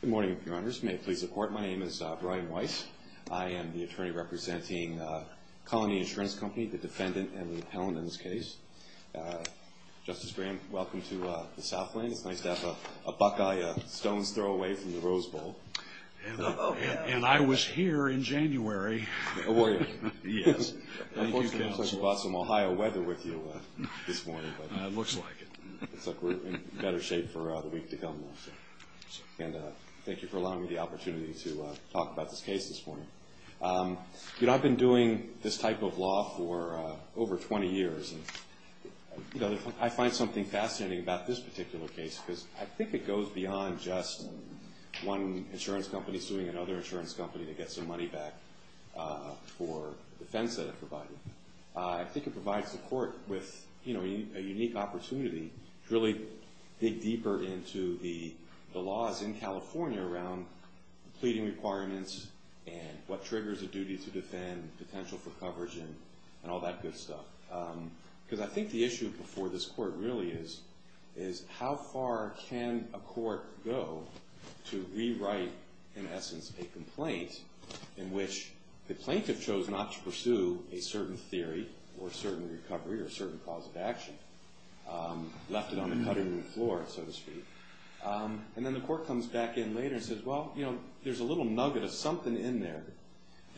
Good morning, your honors. May it please the court, my name is Brian Weiss. I am the attorney representing Colony Insurance Company, the defendant and the appellant in this case. Justice Graham, welcome to the South Lane. It's nice to have a Buckeye Stones throw away from the Rose Bowl. And I was here in January. Oh, were you? Yes. I thought you brought some Ohio weather with you this morning. It looks like it. It looks like we're in better shape for the week to come. And thank you for allowing me the opportunity to talk about this case this morning. You know, I've been doing this type of law for over 20 years. I find something fascinating about this particular case because I think it goes beyond just one insurance company suing another insurance company to get some money back for the defense that it provided. I think it provides the court with, you know, a unique opportunity to really dig deeper into the laws in California around pleading requirements and what triggers a duty to defend, potential for coverage, and all that good stuff. Because I think the issue before this court really is how far can a court go to rewrite, in essence, a complaint in which the plaintiff chose not to pursue a certain theory or a certain recovery or a certain cause of action, left it on the cutting room floor, so to speak. And then the court comes back in later and says, well, you know, there's a little nugget of something in there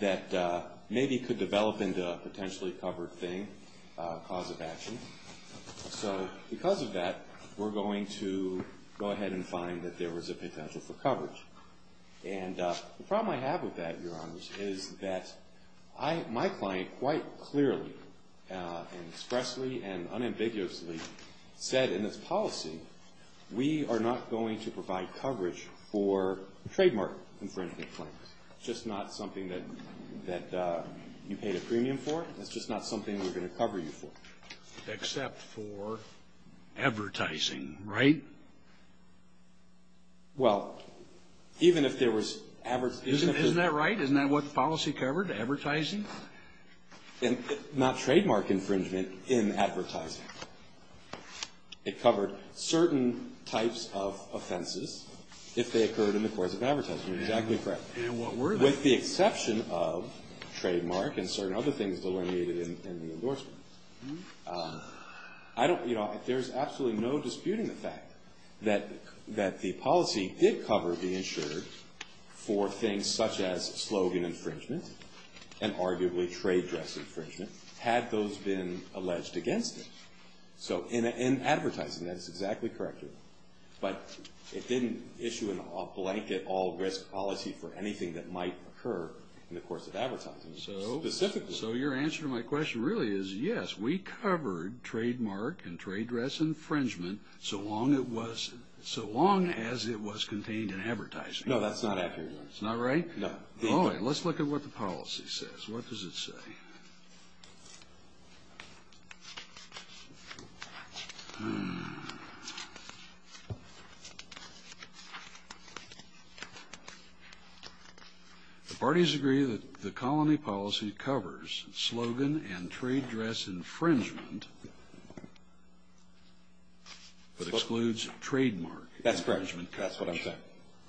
that maybe could develop into a potentially covered thing, cause of action. So because of that, we're going to go ahead and find that there was a potential for coverage. And the problem I have with that, Your Honors, is that my client quite clearly and expressly and unambiguously said in this policy, we are not going to provide coverage for trademark infringement claims. It's just not something that you paid a premium for. It's just not something we're going to cover you for. Except for advertising, right? Well, even if there was advertising. Isn't that right? Isn't that what the policy covered, advertising? Not trademark infringement in advertising. It covered certain types of offenses if they occurred in the course of advertising. You're exactly correct. And what were they? With the exception of trademark and certain other things delineated in the endorsement. I don't, you know, there's absolutely no disputing the fact that the policy did cover the insured for things such as slogan infringement and arguably trade dress infringement, had those been alleged against it. So in advertising, that's exactly correct. But it didn't issue a blanket all risk policy for anything that might occur in the course of advertising. So your answer to my question really is yes, we covered trademark and trade dress infringement so long as it was contained in advertising. No, that's not accurate. It's not right? No. Let's look at what the policy says. What does it say? Hmm. The parties agree that the colony policy covers slogan and trade dress infringement but excludes trademark infringement. That's correct. That's what I'm saying.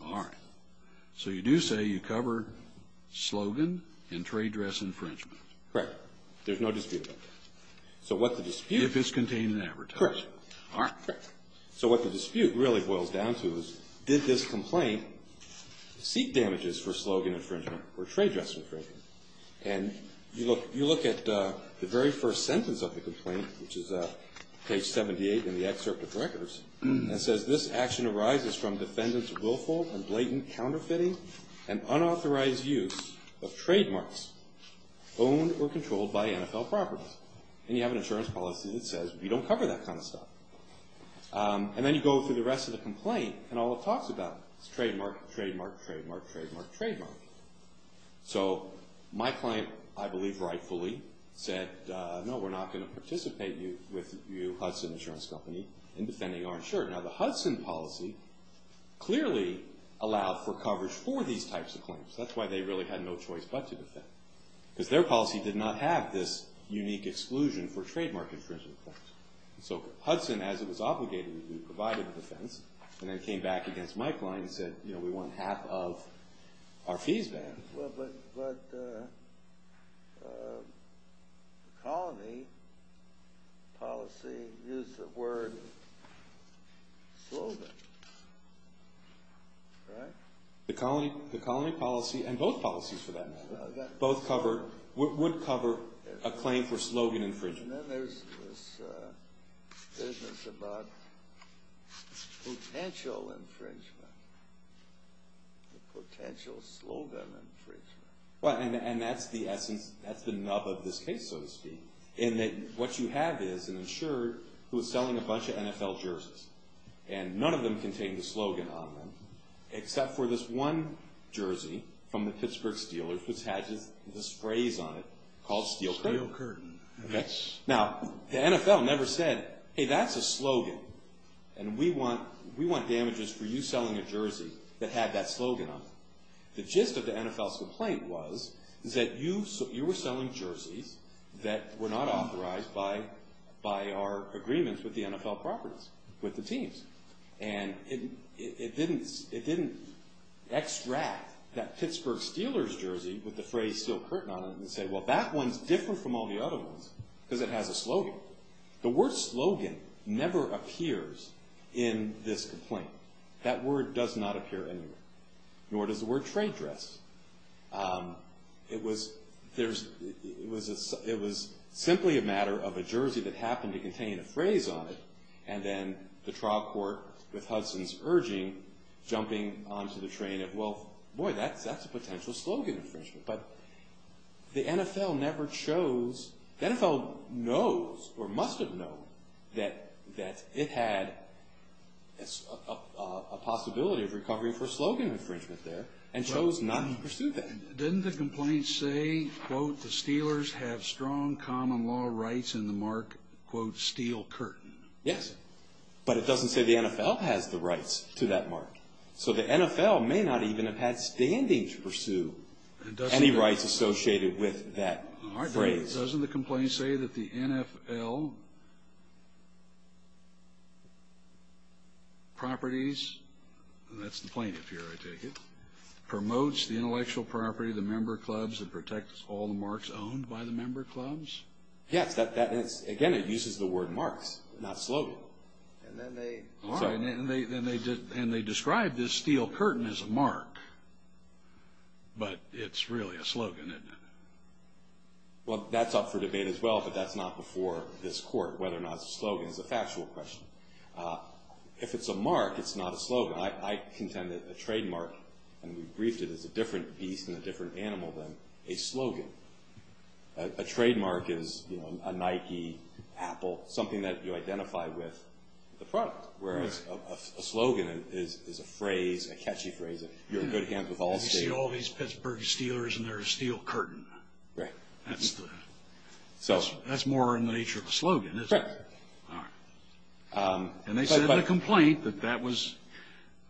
All right. So you do say you cover slogan and trade dress infringement. Correct. There's no dispute. So what's the dispute? If it's contained in advertising. Correct. All right. Correct. So what the dispute really boils down to is did this complaint seek damages for slogan infringement or trade dress infringement? And you look at the very first sentence of the complaint, which is page 78 in the excerpt of records, and it says this action arises from defendants' willful and blatant counterfeiting and unauthorized use of trademarks owned or controlled by NFL properties. And you have an insurance policy that says we don't cover that kind of stuff. And then you go through the rest of the complaint and all it talks about is trademark, trademark, trademark, trademark, trademark. So my client, I believe rightfully, said, no, we're not going to participate with you, Hudson Insurance Company, in defending our insurance. Now, the Hudson policy clearly allowed for coverage for these types of claims. That's why they really had no choice but to defend because their policy did not have this unique exclusion for trademark infringement claims. So Hudson, as it was obligated to do, provided a defense and then came back against my client and said, you know, we want half of our fees banned. Well, but the colony policy used the word slogan, right? The colony policy and both policies for that matter. Both cover, would cover a claim for slogan infringement. And then there's this business about potential infringement, the potential slogan infringement. And that's the essence, that's the nub of this case, so to speak, in that what you have is an insurer who is selling a bunch of NFL jerseys and none of them contain the slogan on them, except for this one jersey from the Pittsburgh Steelers, which has the sprays on it, called Steel Curtain. Now, the NFL never said, hey, that's a slogan, and we want damages for you selling a jersey that had that slogan on it. The gist of the NFL's complaint was that you were selling jerseys that were not authorized by our agreements with the NFL properties, with the teams. And it didn't extract that Pittsburgh Steelers jersey with the phrase Steel Curtain on it and say, well, that one's different from all the other ones because it has a slogan. The word slogan never appears in this complaint. That word does not appear anywhere, nor does the word trade dress. It was simply a matter of a jersey that happened to contain a phrase on it, and then the trial court, with Hudson's urging, jumping onto the train of, well, boy, that's a potential slogan infringement. But the NFL never chose. The NFL knows or must have known that it had a possibility of recovery for a slogan infringement there and chose not to pursue that. Didn't the complaint say, quote, the Steelers have strong common law rights in the mark, quote, Steel Curtain? Yes. But it doesn't say the NFL has the rights to that mark. So the NFL may not even have had standing to pursue any rights associated with that phrase. Doesn't the complaint say that the NFL properties, and that's the plaintiff here, I take it, promotes the intellectual property of the member clubs and protects all the marks owned by the member clubs? Yes. Again, it uses the word marks, not slogan. And they describe this Steel Curtain as a mark, but it's really a slogan, isn't it? Well, that's up for debate as well, but that's not before this court, whether or not it's a slogan. It's a factual question. If it's a mark, it's not a slogan. I contend that a trademark, and we briefed it as a different beast and a different animal than a slogan, a trademark is a Nike, Apple, something that you identify with the product, whereas a slogan is a phrase, a catchy phrase. You're in good hands with all the Steelers. You see all these Pittsburgh Steelers and their Steel Curtain. Right. That's more in the nature of a slogan, isn't it? Correct. All right. And they said in the complaint that that was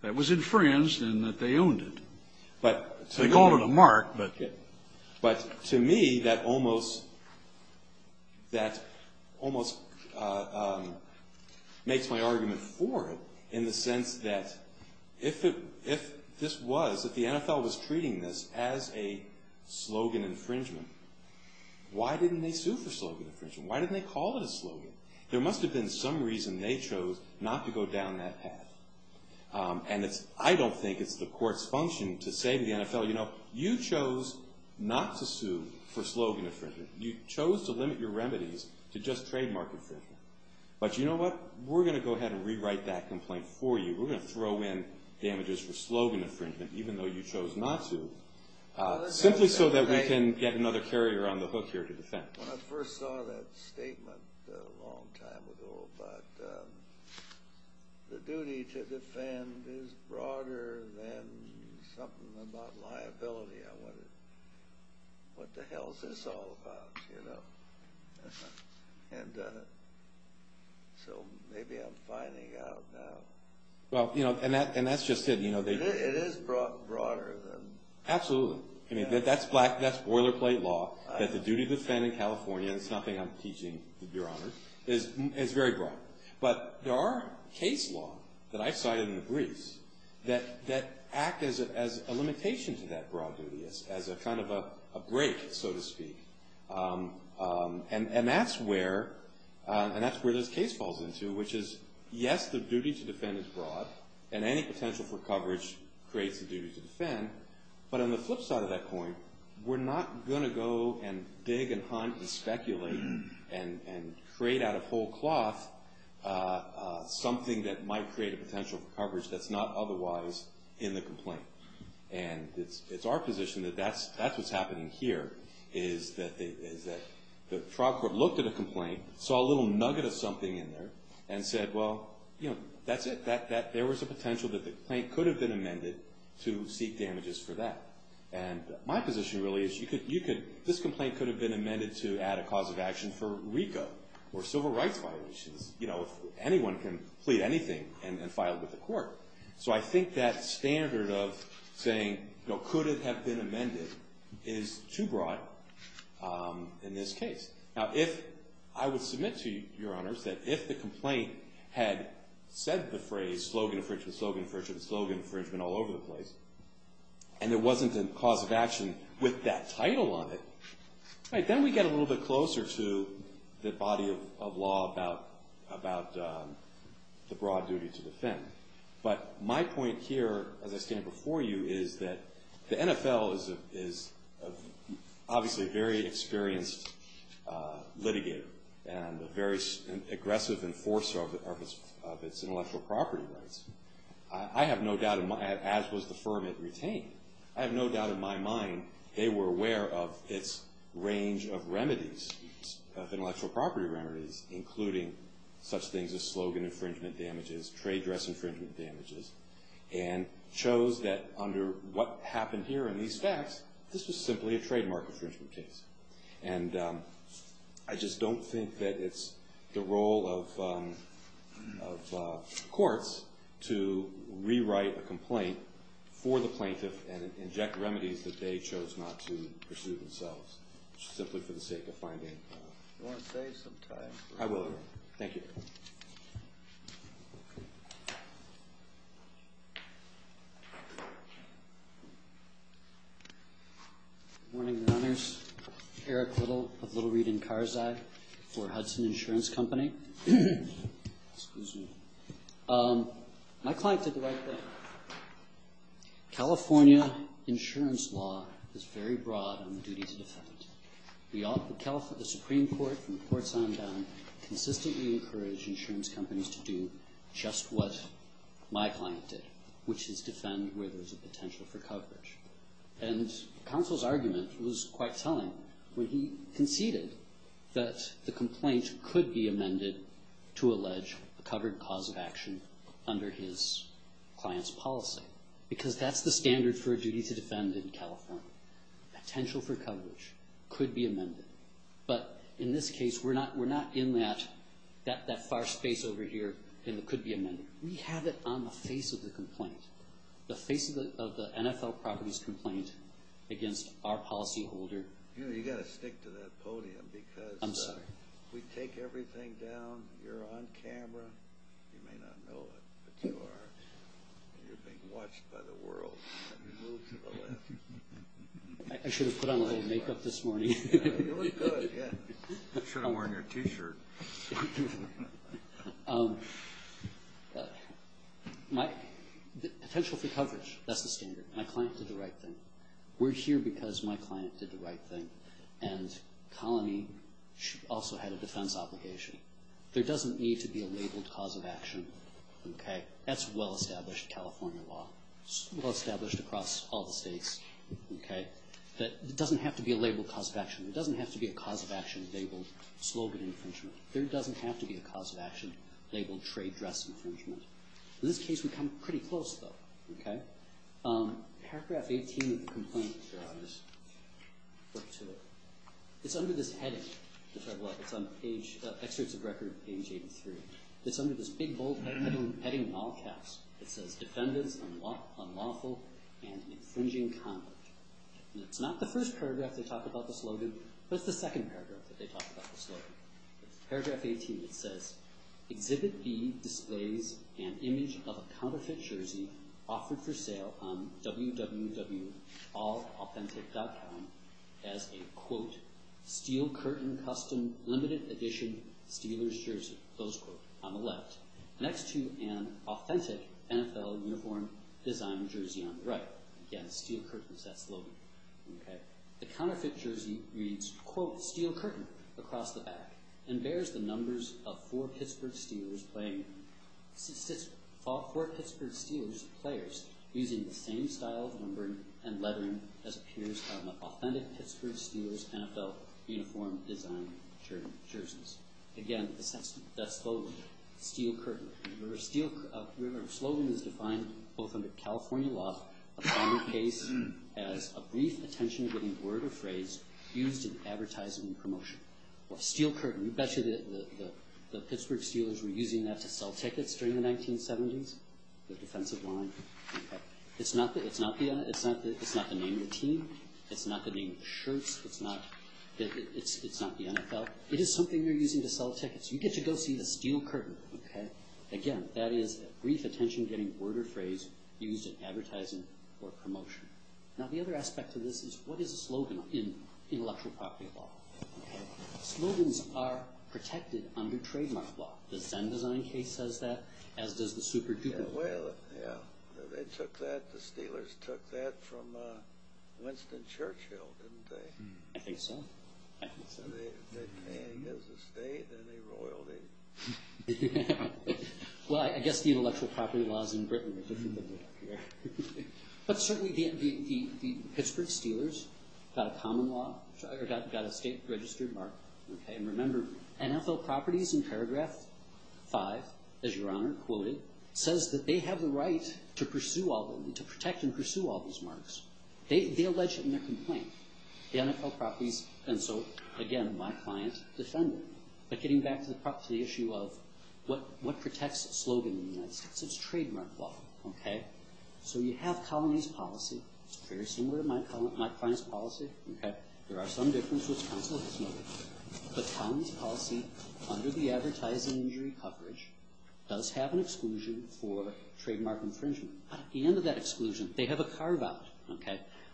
infringed and that they owned it. They called it a mark. But to me, that almost makes my argument for it in the sense that if this was, if the NFL was treating this as a slogan infringement, why didn't they sue for slogan infringement? Why didn't they call it a slogan? There must have been some reason they chose not to go down that path. And I don't think it's the court's function to say to the NFL, you know, you chose not to sue for slogan infringement. You chose to limit your remedies to just trademark infringement. But you know what? We're going to go ahead and rewrite that complaint for you. We're going to throw in damages for slogan infringement, even though you chose not to, simply so that we can get another carrier on the hook here to defend. When I first saw that statement a long time ago, but the duty to defend is broader than something about liability. What the hell is this all about, you know? And so maybe I'm finding out now. Well, you know, and that's just it. It is broader than. Absolutely. I mean, that's boilerplate law, that the duty to defend in California, and it's something I'm teaching, Your Honor, is very broad. But there are case law that I cited in the briefs that act as a limitation to that broad duty, as a kind of a break, so to speak. And that's where this case falls into, which is, yes, the duty to defend is broad, and any potential for coverage creates the duty to defend. But on the flip side of that coin, we're not going to go and dig and hunt and speculate and trade out of whole cloth something that might create a potential for coverage that's not otherwise in the complaint. And it's our position that that's what's happening here, is that the trial court looked at a complaint, saw a little nugget of something in there, and said, well, you know, that's it. There was a potential that the complaint could have been amended to seek damages for that. And my position really is this complaint could have been amended to add a cause of action for RICO or civil rights violations, you know, if anyone can plead anything and file it with the court. So I think that standard of saying, you know, could it have been amended is too broad in this case. Now, if I would submit to you, Your Honors, that if the complaint had said the phrase, slogan infringement, slogan infringement, slogan infringement all over the place, and it wasn't a cause of action with that title on it, then we get a little bit closer to the body of law about the broad duty to defend. But my point here, as I stated before you, is that the NFL is obviously a very experienced litigator and a very aggressive enforcer of its intellectual property rights, as was the firm it retained. I have no doubt in my mind they were aware of its range of remedies, of intellectual property remedies, including such things as slogan infringement damages, trade dress infringement damages, and chose that under what happened here in these facts, this was simply a trademark infringement case. And I just don't think that it's the role of courts to rewrite a complaint for the plaintiff and inject remedies that they chose not to pursue themselves, simply for the sake of finding fault. Do you want to save some time? I will, thank you. Good morning, Your Honors. Eric Little of Little, Reed, and Carzai for Hudson Insurance Company. Excuse me. My client did the right thing. California insurance law is very broad in the duty to defend. The Supreme Court from courts on down consistently encouraged insurance companies to do just what my client did, which is defend where there's a potential for coverage. And counsel's argument was quite telling when he conceded that the complaint could be amended to allege a covered cause of action under his client's policy, because that's the standard for a duty to defend in California. Potential for coverage could be amended. But in this case, we're not in that far space over here and it could be amended. We have it on the face of the complaint, the face of the NFL properties complaint against our policyholder. You know, you've got to stick to that podium because we take everything down. You're on camera. You may not know it, but you are. You're being watched by the world. I should have put on a little makeup this morning. You look good, yeah. You should have worn your T-shirt. Potential for coverage, that's the standard. My client did the right thing. We're here because my client did the right thing. And colony also had a defense obligation. There doesn't need to be a labeled cause of action. That's well-established California law. It's well-established across all the states. It doesn't have to be a labeled cause of action. It doesn't have to be a cause of action labeled slogan infringement. There doesn't have to be a cause of action labeled trade dress infringement. In this case, we've come pretty close, though. Paragraph 18 of the complaint, if you're on this, look to it. It's under this heading. It's on page, excerpts of record, page 83. It's under this big bold heading in all caps. It says, Defendants Unlawful and Infringing Conduct. And it's not the first paragraph they talk about the slogan, but it's the second paragraph that they talk about the slogan. Paragraph 18, it says, Exhibit B displays an image of a counterfeit jersey offered for sale on www.allauthentic.com as a, quote, on the left, next to an authentic NFL uniform design jersey on the right. Again, steel curtains, that slogan. The counterfeit jersey reads, quote, steel curtain across the back and bears the numbers of four Pittsburgh Steelers players using the same style of numbering and lettering as appears on the authentic Pittsburgh Steelers NFL uniform design jerseys. Again, that slogan, steel curtain. Remember, a slogan is defined both under California law, a final case, as a brief attention-getting word or phrase used in advertising and promotion. Well, steel curtain, you betcha the Pittsburgh Steelers were using that to sell tickets during the 1970s, the defensive line. It's not the name of the team. It's not the name of the shirts. It's not the NFL. It is something you're using to sell tickets. You get to go see the steel curtain. Again, that is a brief attention-getting word or phrase used in advertising or promotion. Now, the other aspect of this is what is a slogan in intellectual property law? Slogans are protected under trademark law. The Zen Design case says that, as does the Super Duper Law. Well, yeah, they took that, the Steelers took that from Winston Churchill, didn't they? I think so. I think so. They came as a state and they roiled it. Well, I guess the intellectual property laws in Britain are different than they are here. But certainly the Pittsburgh Steelers got a common law, got a state-registered mark. And remember, NFL properties in paragraph 5, as Your Honor quoted, says that they have the right to protect and pursue all those marks. They allege it in their complaint. The NFL properties, and so, again, my client defended it. But getting back to the issue of what protects a slogan in the United States, it's trademark law. So you have Colony's Policy. It's very similar to my client's policy. There are some differences, which counsel has noted. But Colony's Policy, under the Advertising Injury Coverage, does have an exclusion for trademark infringement. At the end of that exclusion, they have a carve-out,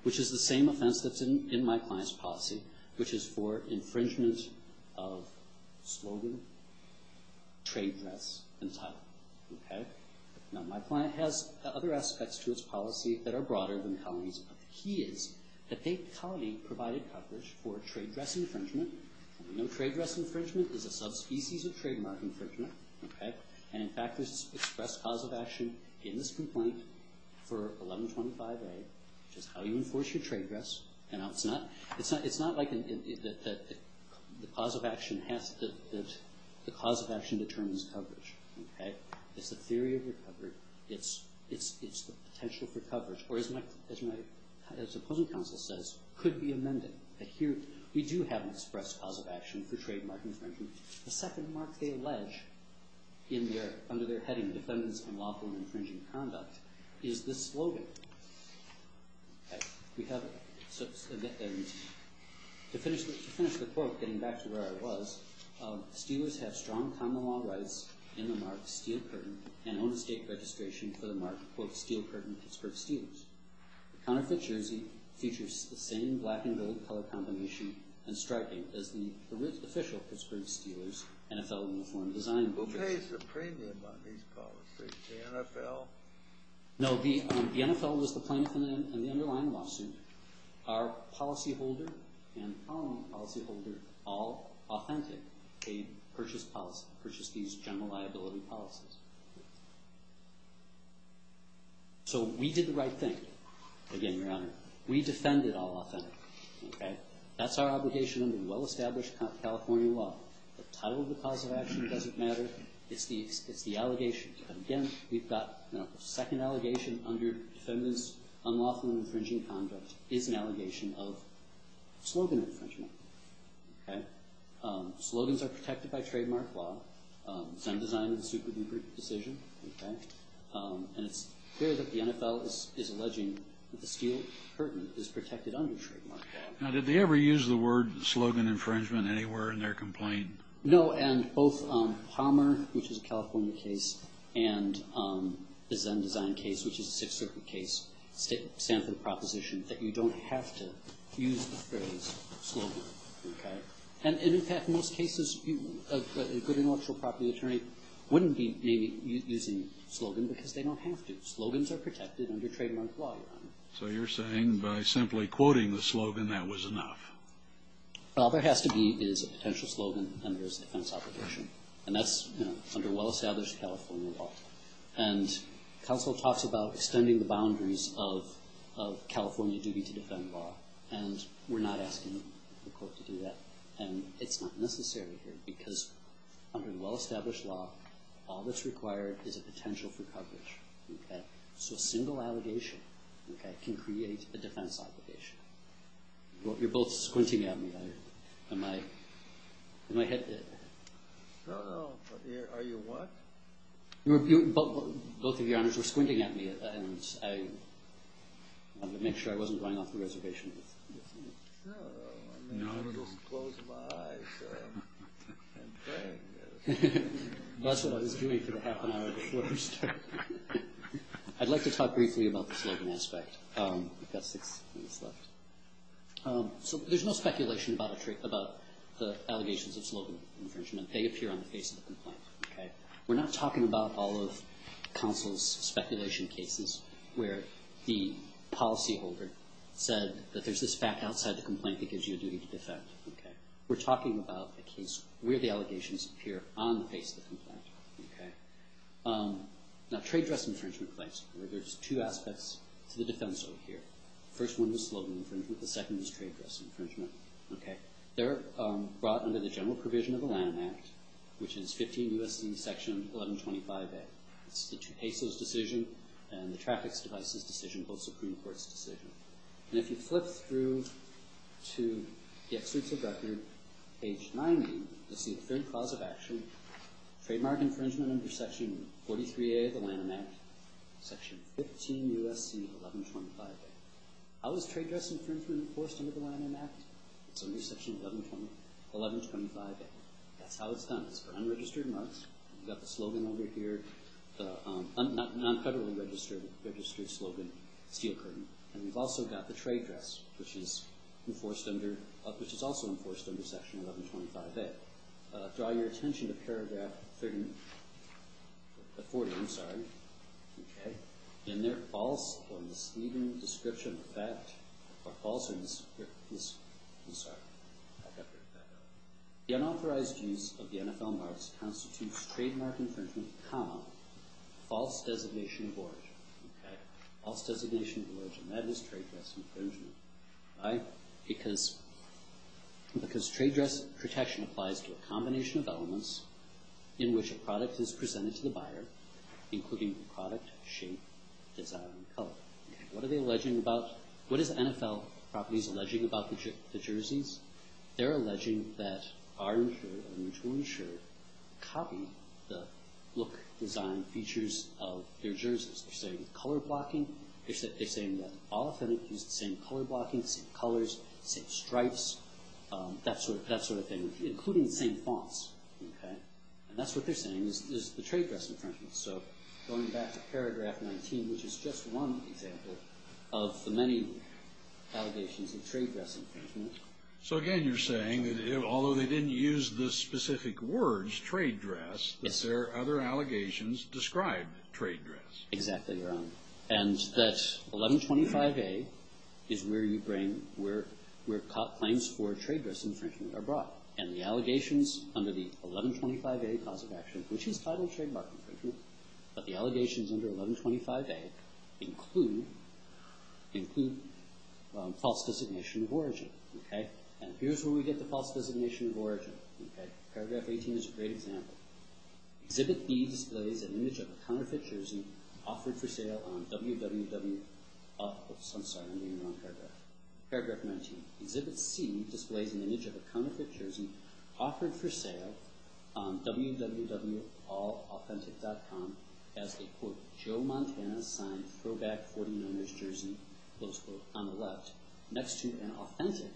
which is the same offense that's in my client's policy, which is for infringement of slogan, trade dress, and title. Now, my client has other aspects to his policy that are broader than Colony's. But the key is that Colony provided coverage for trade dress infringement. We know trade dress infringement is a subspecies of trademark infringement. And, in fact, there's an express cause of action in this complaint for 1125A, which is how you enforce your trade dress. And it's not like the cause of action determines coverage. It's the theory of recovery. It's the potential for coverage. Or, as my opposing counsel says, could be amended. But here we do have an express cause of action for trademark infringement. The second mark they allege under their heading, Defendants Unlawful and Infringing Conduct, is this slogan. To finish the quote, getting back to where I was, Steelers have strong common law rights in the mark Steel Curtain and own estate registration for the mark Steel Curtain Pittsburgh Steelers. The counterfeit jersey features the same black and gold color combination as the official Pittsburgh Steelers NFL uniform design. Who pays the premium on these policies, the NFL? No, the NFL was the plaintiff in the underlying lawsuit. Our policyholder and Colony policyholder, all authentic, purchased these general liability policies. So we did the right thing, again, Your Honor. We defended all authentic. That's our obligation under well-established California law. The title of the cause of action doesn't matter. It's the allegation. Again, we've got the second allegation under Defendants Unlawful and Infringing Conduct is an allegation of slogan infringement. Slogans are protected by trademark law. It's undesigned in the suit with the decision. And it's clear that the NFL is alleging that the Steel Curtain is protected under trademark law. Now, did they ever use the word slogan infringement anywhere in their complaint? No, and both Palmer, which is a California case, and the Zen Design case, which is a Sixth Circuit case, stand for the proposition that you don't have to use the phrase slogan. And in fact, most cases, a good intellectual property attorney wouldn't be using slogan because they don't have to. Slogans are protected under trademark law, Your Honor. So you're saying by simply quoting the slogan that was enough. All there has to be is a potential slogan and there's a defense obligation. And that's under well-established California law. And counsel talks about extending the boundaries of California duty to defend law, and we're not asking the court to do that. And it's not necessary here because under the well-established law, all that's required is a potential for coverage. So a single allegation can create a defense obligation. You're both squinting at me. Am I hit? No, no. Are you what? Both of Your Honors were squinting at me, and I wanted to make sure I wasn't going off the reservation. No, I was just closing my eyes and praying. That's what I was doing for the half an hour before we started. I'd like to talk briefly about the slogan aspect. We've got six minutes left. So there's no speculation about the allegations of slogan infringement. They appear on the face of the complaint. We're not talking about all of counsel's speculation cases where the policyholder said that there's this fact outside the complaint that gives you a duty to defend. We're talking about a case where the allegations appear on the face of the complaint. Now, trade dress infringement claims, there's two aspects to the defense over here. The first one is slogan infringement. The second is trade dress infringement. They're brought under the general provision of the Lanham Act, which is 15 U.S.C. Section 1125A. It's the two pesos decision and the traffic devices decision, both Supreme Court's decision. And if you flip through to the excerpts of record, page 90, you'll see a third clause of action, trademark infringement under Section 43A of the Lanham Act, Section 15 U.S.C. 1125A. How is trade dress infringement enforced under the Lanham Act? It's under Section 1125A. That's how it's done. It's for unregistered marks. We've got the slogan over here, non-federally registered slogan, steel curtain. And we've also got the trade dress, which is enforced under – which is also enforced under Section 1125A. Draw your attention to paragraph 30 – 40, I'm sorry. Okay. In their false or misleading description of that – or false – I'm sorry. The unauthorized use of the NFL marks constitutes trademark infringement, comma, false designation of origin. Okay? False designation of origin. That is trade dress infringement. Why? Because trade dress protection applies to a combination of elements in which a product is presented to the buyer, including product, shape, design, and color. What are they alleging about – what is NFL Properties alleging about the jerseys? They're alleging that our insurer, a mutual insurer, copied the look, design, features of their jerseys. They're saying color blocking. They're saying that all athletes use the same color blocking, same colors, same stripes, that sort of thing, including the same fonts. Okay? And that's what they're saying is the trade dress infringement. So going back to paragraph 19, which is just one example of the many allegations of trade dress infringement. So, again, you're saying that although they didn't use the specific words trade dress, that there are other allegations described trade dress. Exactly, Your Honor. And that 1125A is where you bring – where claims for trade dress infringement are brought. And the allegations under the 1125A cause of action, which is title trademark infringement, but the allegations under 1125A include false designation of origin. Okay? And here's where we get the false designation of origin. Okay? Paragraph 18 is a great example. Exhibit B displays an image of a counterfeit jersey offered for sale on www. Oops, I'm sorry. I'm reading the wrong paragraph. Paragraph 19. Exhibit C displays an image of a counterfeit jersey offered for sale on www.allauthentic.com as a, quote, Joe Montana signed throwback 49ers jersey, close quote, on the left, next to an authentic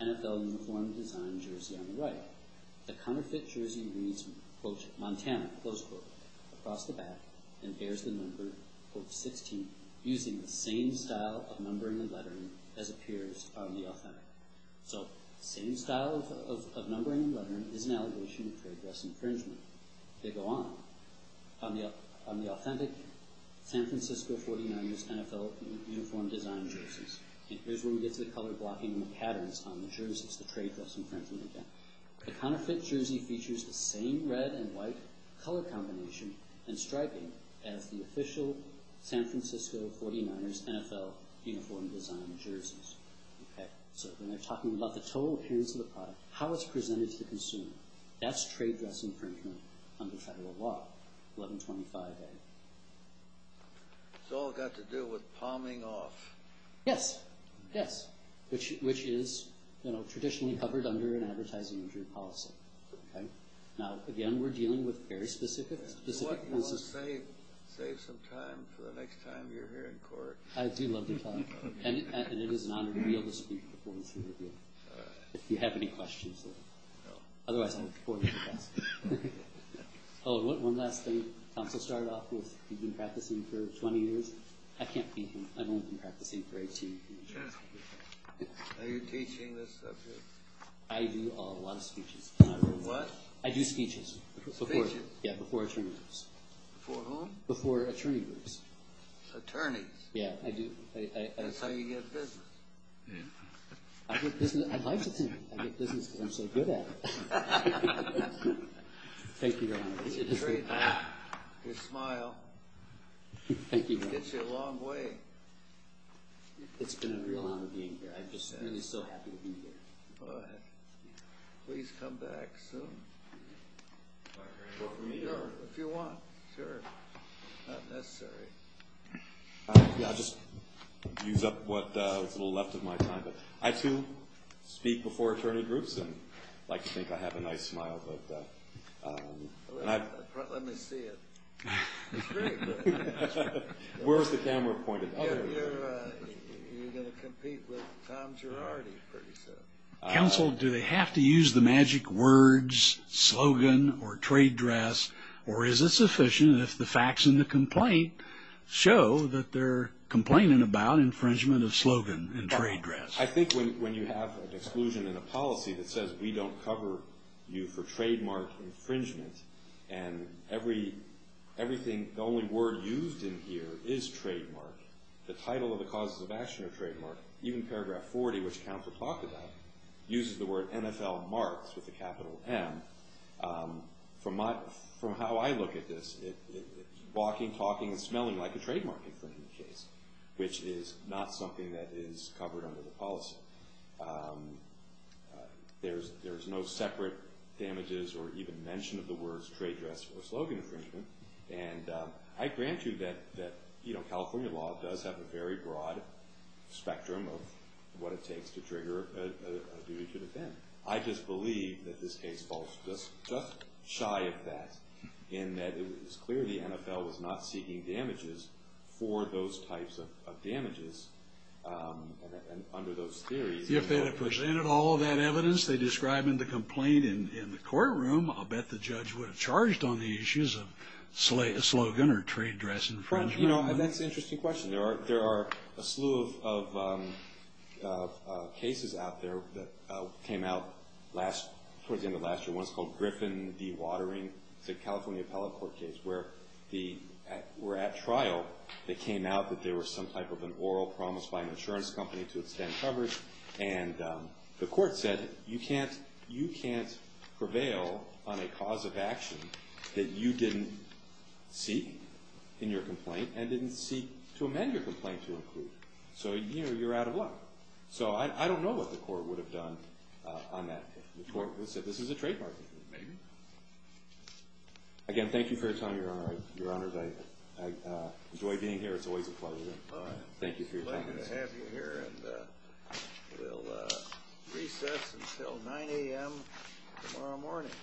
NFL uniform design jersey on the right. The counterfeit jersey reads, quote, Montana, close quote, across the back and bears the number, quote, 16, using the same style of numbering and lettering as appears on the authentic. So same style of numbering and lettering is an allegation of trade dress infringement. They go on. On the authentic San Francisco 49ers NFL uniform design jerseys. And here's where we get to the color blocking and the patterns on the jerseys, the trade dress infringement again. The counterfeit jersey features the same red and white color combination and striping as the official San Francisco 49ers NFL uniform design jerseys. So when they're talking about the total appearance of the product, how it's presented to the consumer, that's trade dress infringement under federal law, 1125A. It's all got to do with palming off. Yes. Yes. Which is, you know, traditionally covered under an advertising injury policy. Now, again, we're dealing with very specific cases. You want to save some time for the next time you're here in court. I do love to talk. And it is an honor to be able to speak before this interview. If you have any questions. Otherwise, I'll pour you a glass. One last thing. Council started off with, you've been practicing for 20 years. I can't beat him. I've only been practicing for 18 years. Are you teaching this subject? I do a lot of speeches. What? I do speeches. Speeches? Yeah, before attorney groups. Before whom? Before attorney groups. Attorneys? Yeah, I do. That's how you get business. I like to think I get business because I'm so good at it. Thank you, Your Honor. It's a treat. Your smile. Thank you, Your Honor. Gets you a long way. It's been a real honor being here. I'm just really so happy to be here. Please come back soon. If you want. Sure. Not necessary. I'll just use up what is left of my time. I, too, speak before attorney groups and like to think I have a nice smile. Let me see it. It's great. Where is the camera pointed? You're going to compete with Tom Girardi pretty soon. Counsel, do they have to use the magic words, slogan, or trade dress, or is it sufficient if the facts in the complaint show that they're complaining about infringement of slogan and trade dress? I think when you have an exclusion in a policy that says we don't cover you for trademark infringement and everything, the only word used in here is trademark, the title of the causes of action are trademark, even paragraph 40, which counsel talked about, uses the word NFL marks with a capital M. From how I look at this, walking, talking, and smelling like a trademark infringement case, which is not something that is covered under the policy. There's no separate damages or even mention of the words trade dress or slogan infringement. And I grant you that California law does have a very broad spectrum of what it takes to trigger a duty to defend. I just believe that this case falls just shy of that, in that it was clear the NFL was not seeking damages for those types of If they had presented all of that evidence, they describe in the complaint in the courtroom, I'll bet the judge would have charged on the issues of slogan or trade dress infringement. That's an interesting question. There are a slew of cases out there that came out towards the end of last year. One's called Griffin dewatering. It's a California appellate court case where we're at trial. It came out that there was some type of an oral promise by an insurance company to extend coverage, and the court said, you can't prevail on a cause of action that you didn't seek in your complaint and didn't seek to amend your complaint to include. So you're out of luck. So I don't know what the court would have done on that case. The court would have said, this is a trademark infringement. Maybe. Again, thank you for your time, Your Honor. I enjoy being here. It's always a pleasure. Thank you for your time. Glad to have you here, and we'll recess until 9 a.m. tomorrow morning.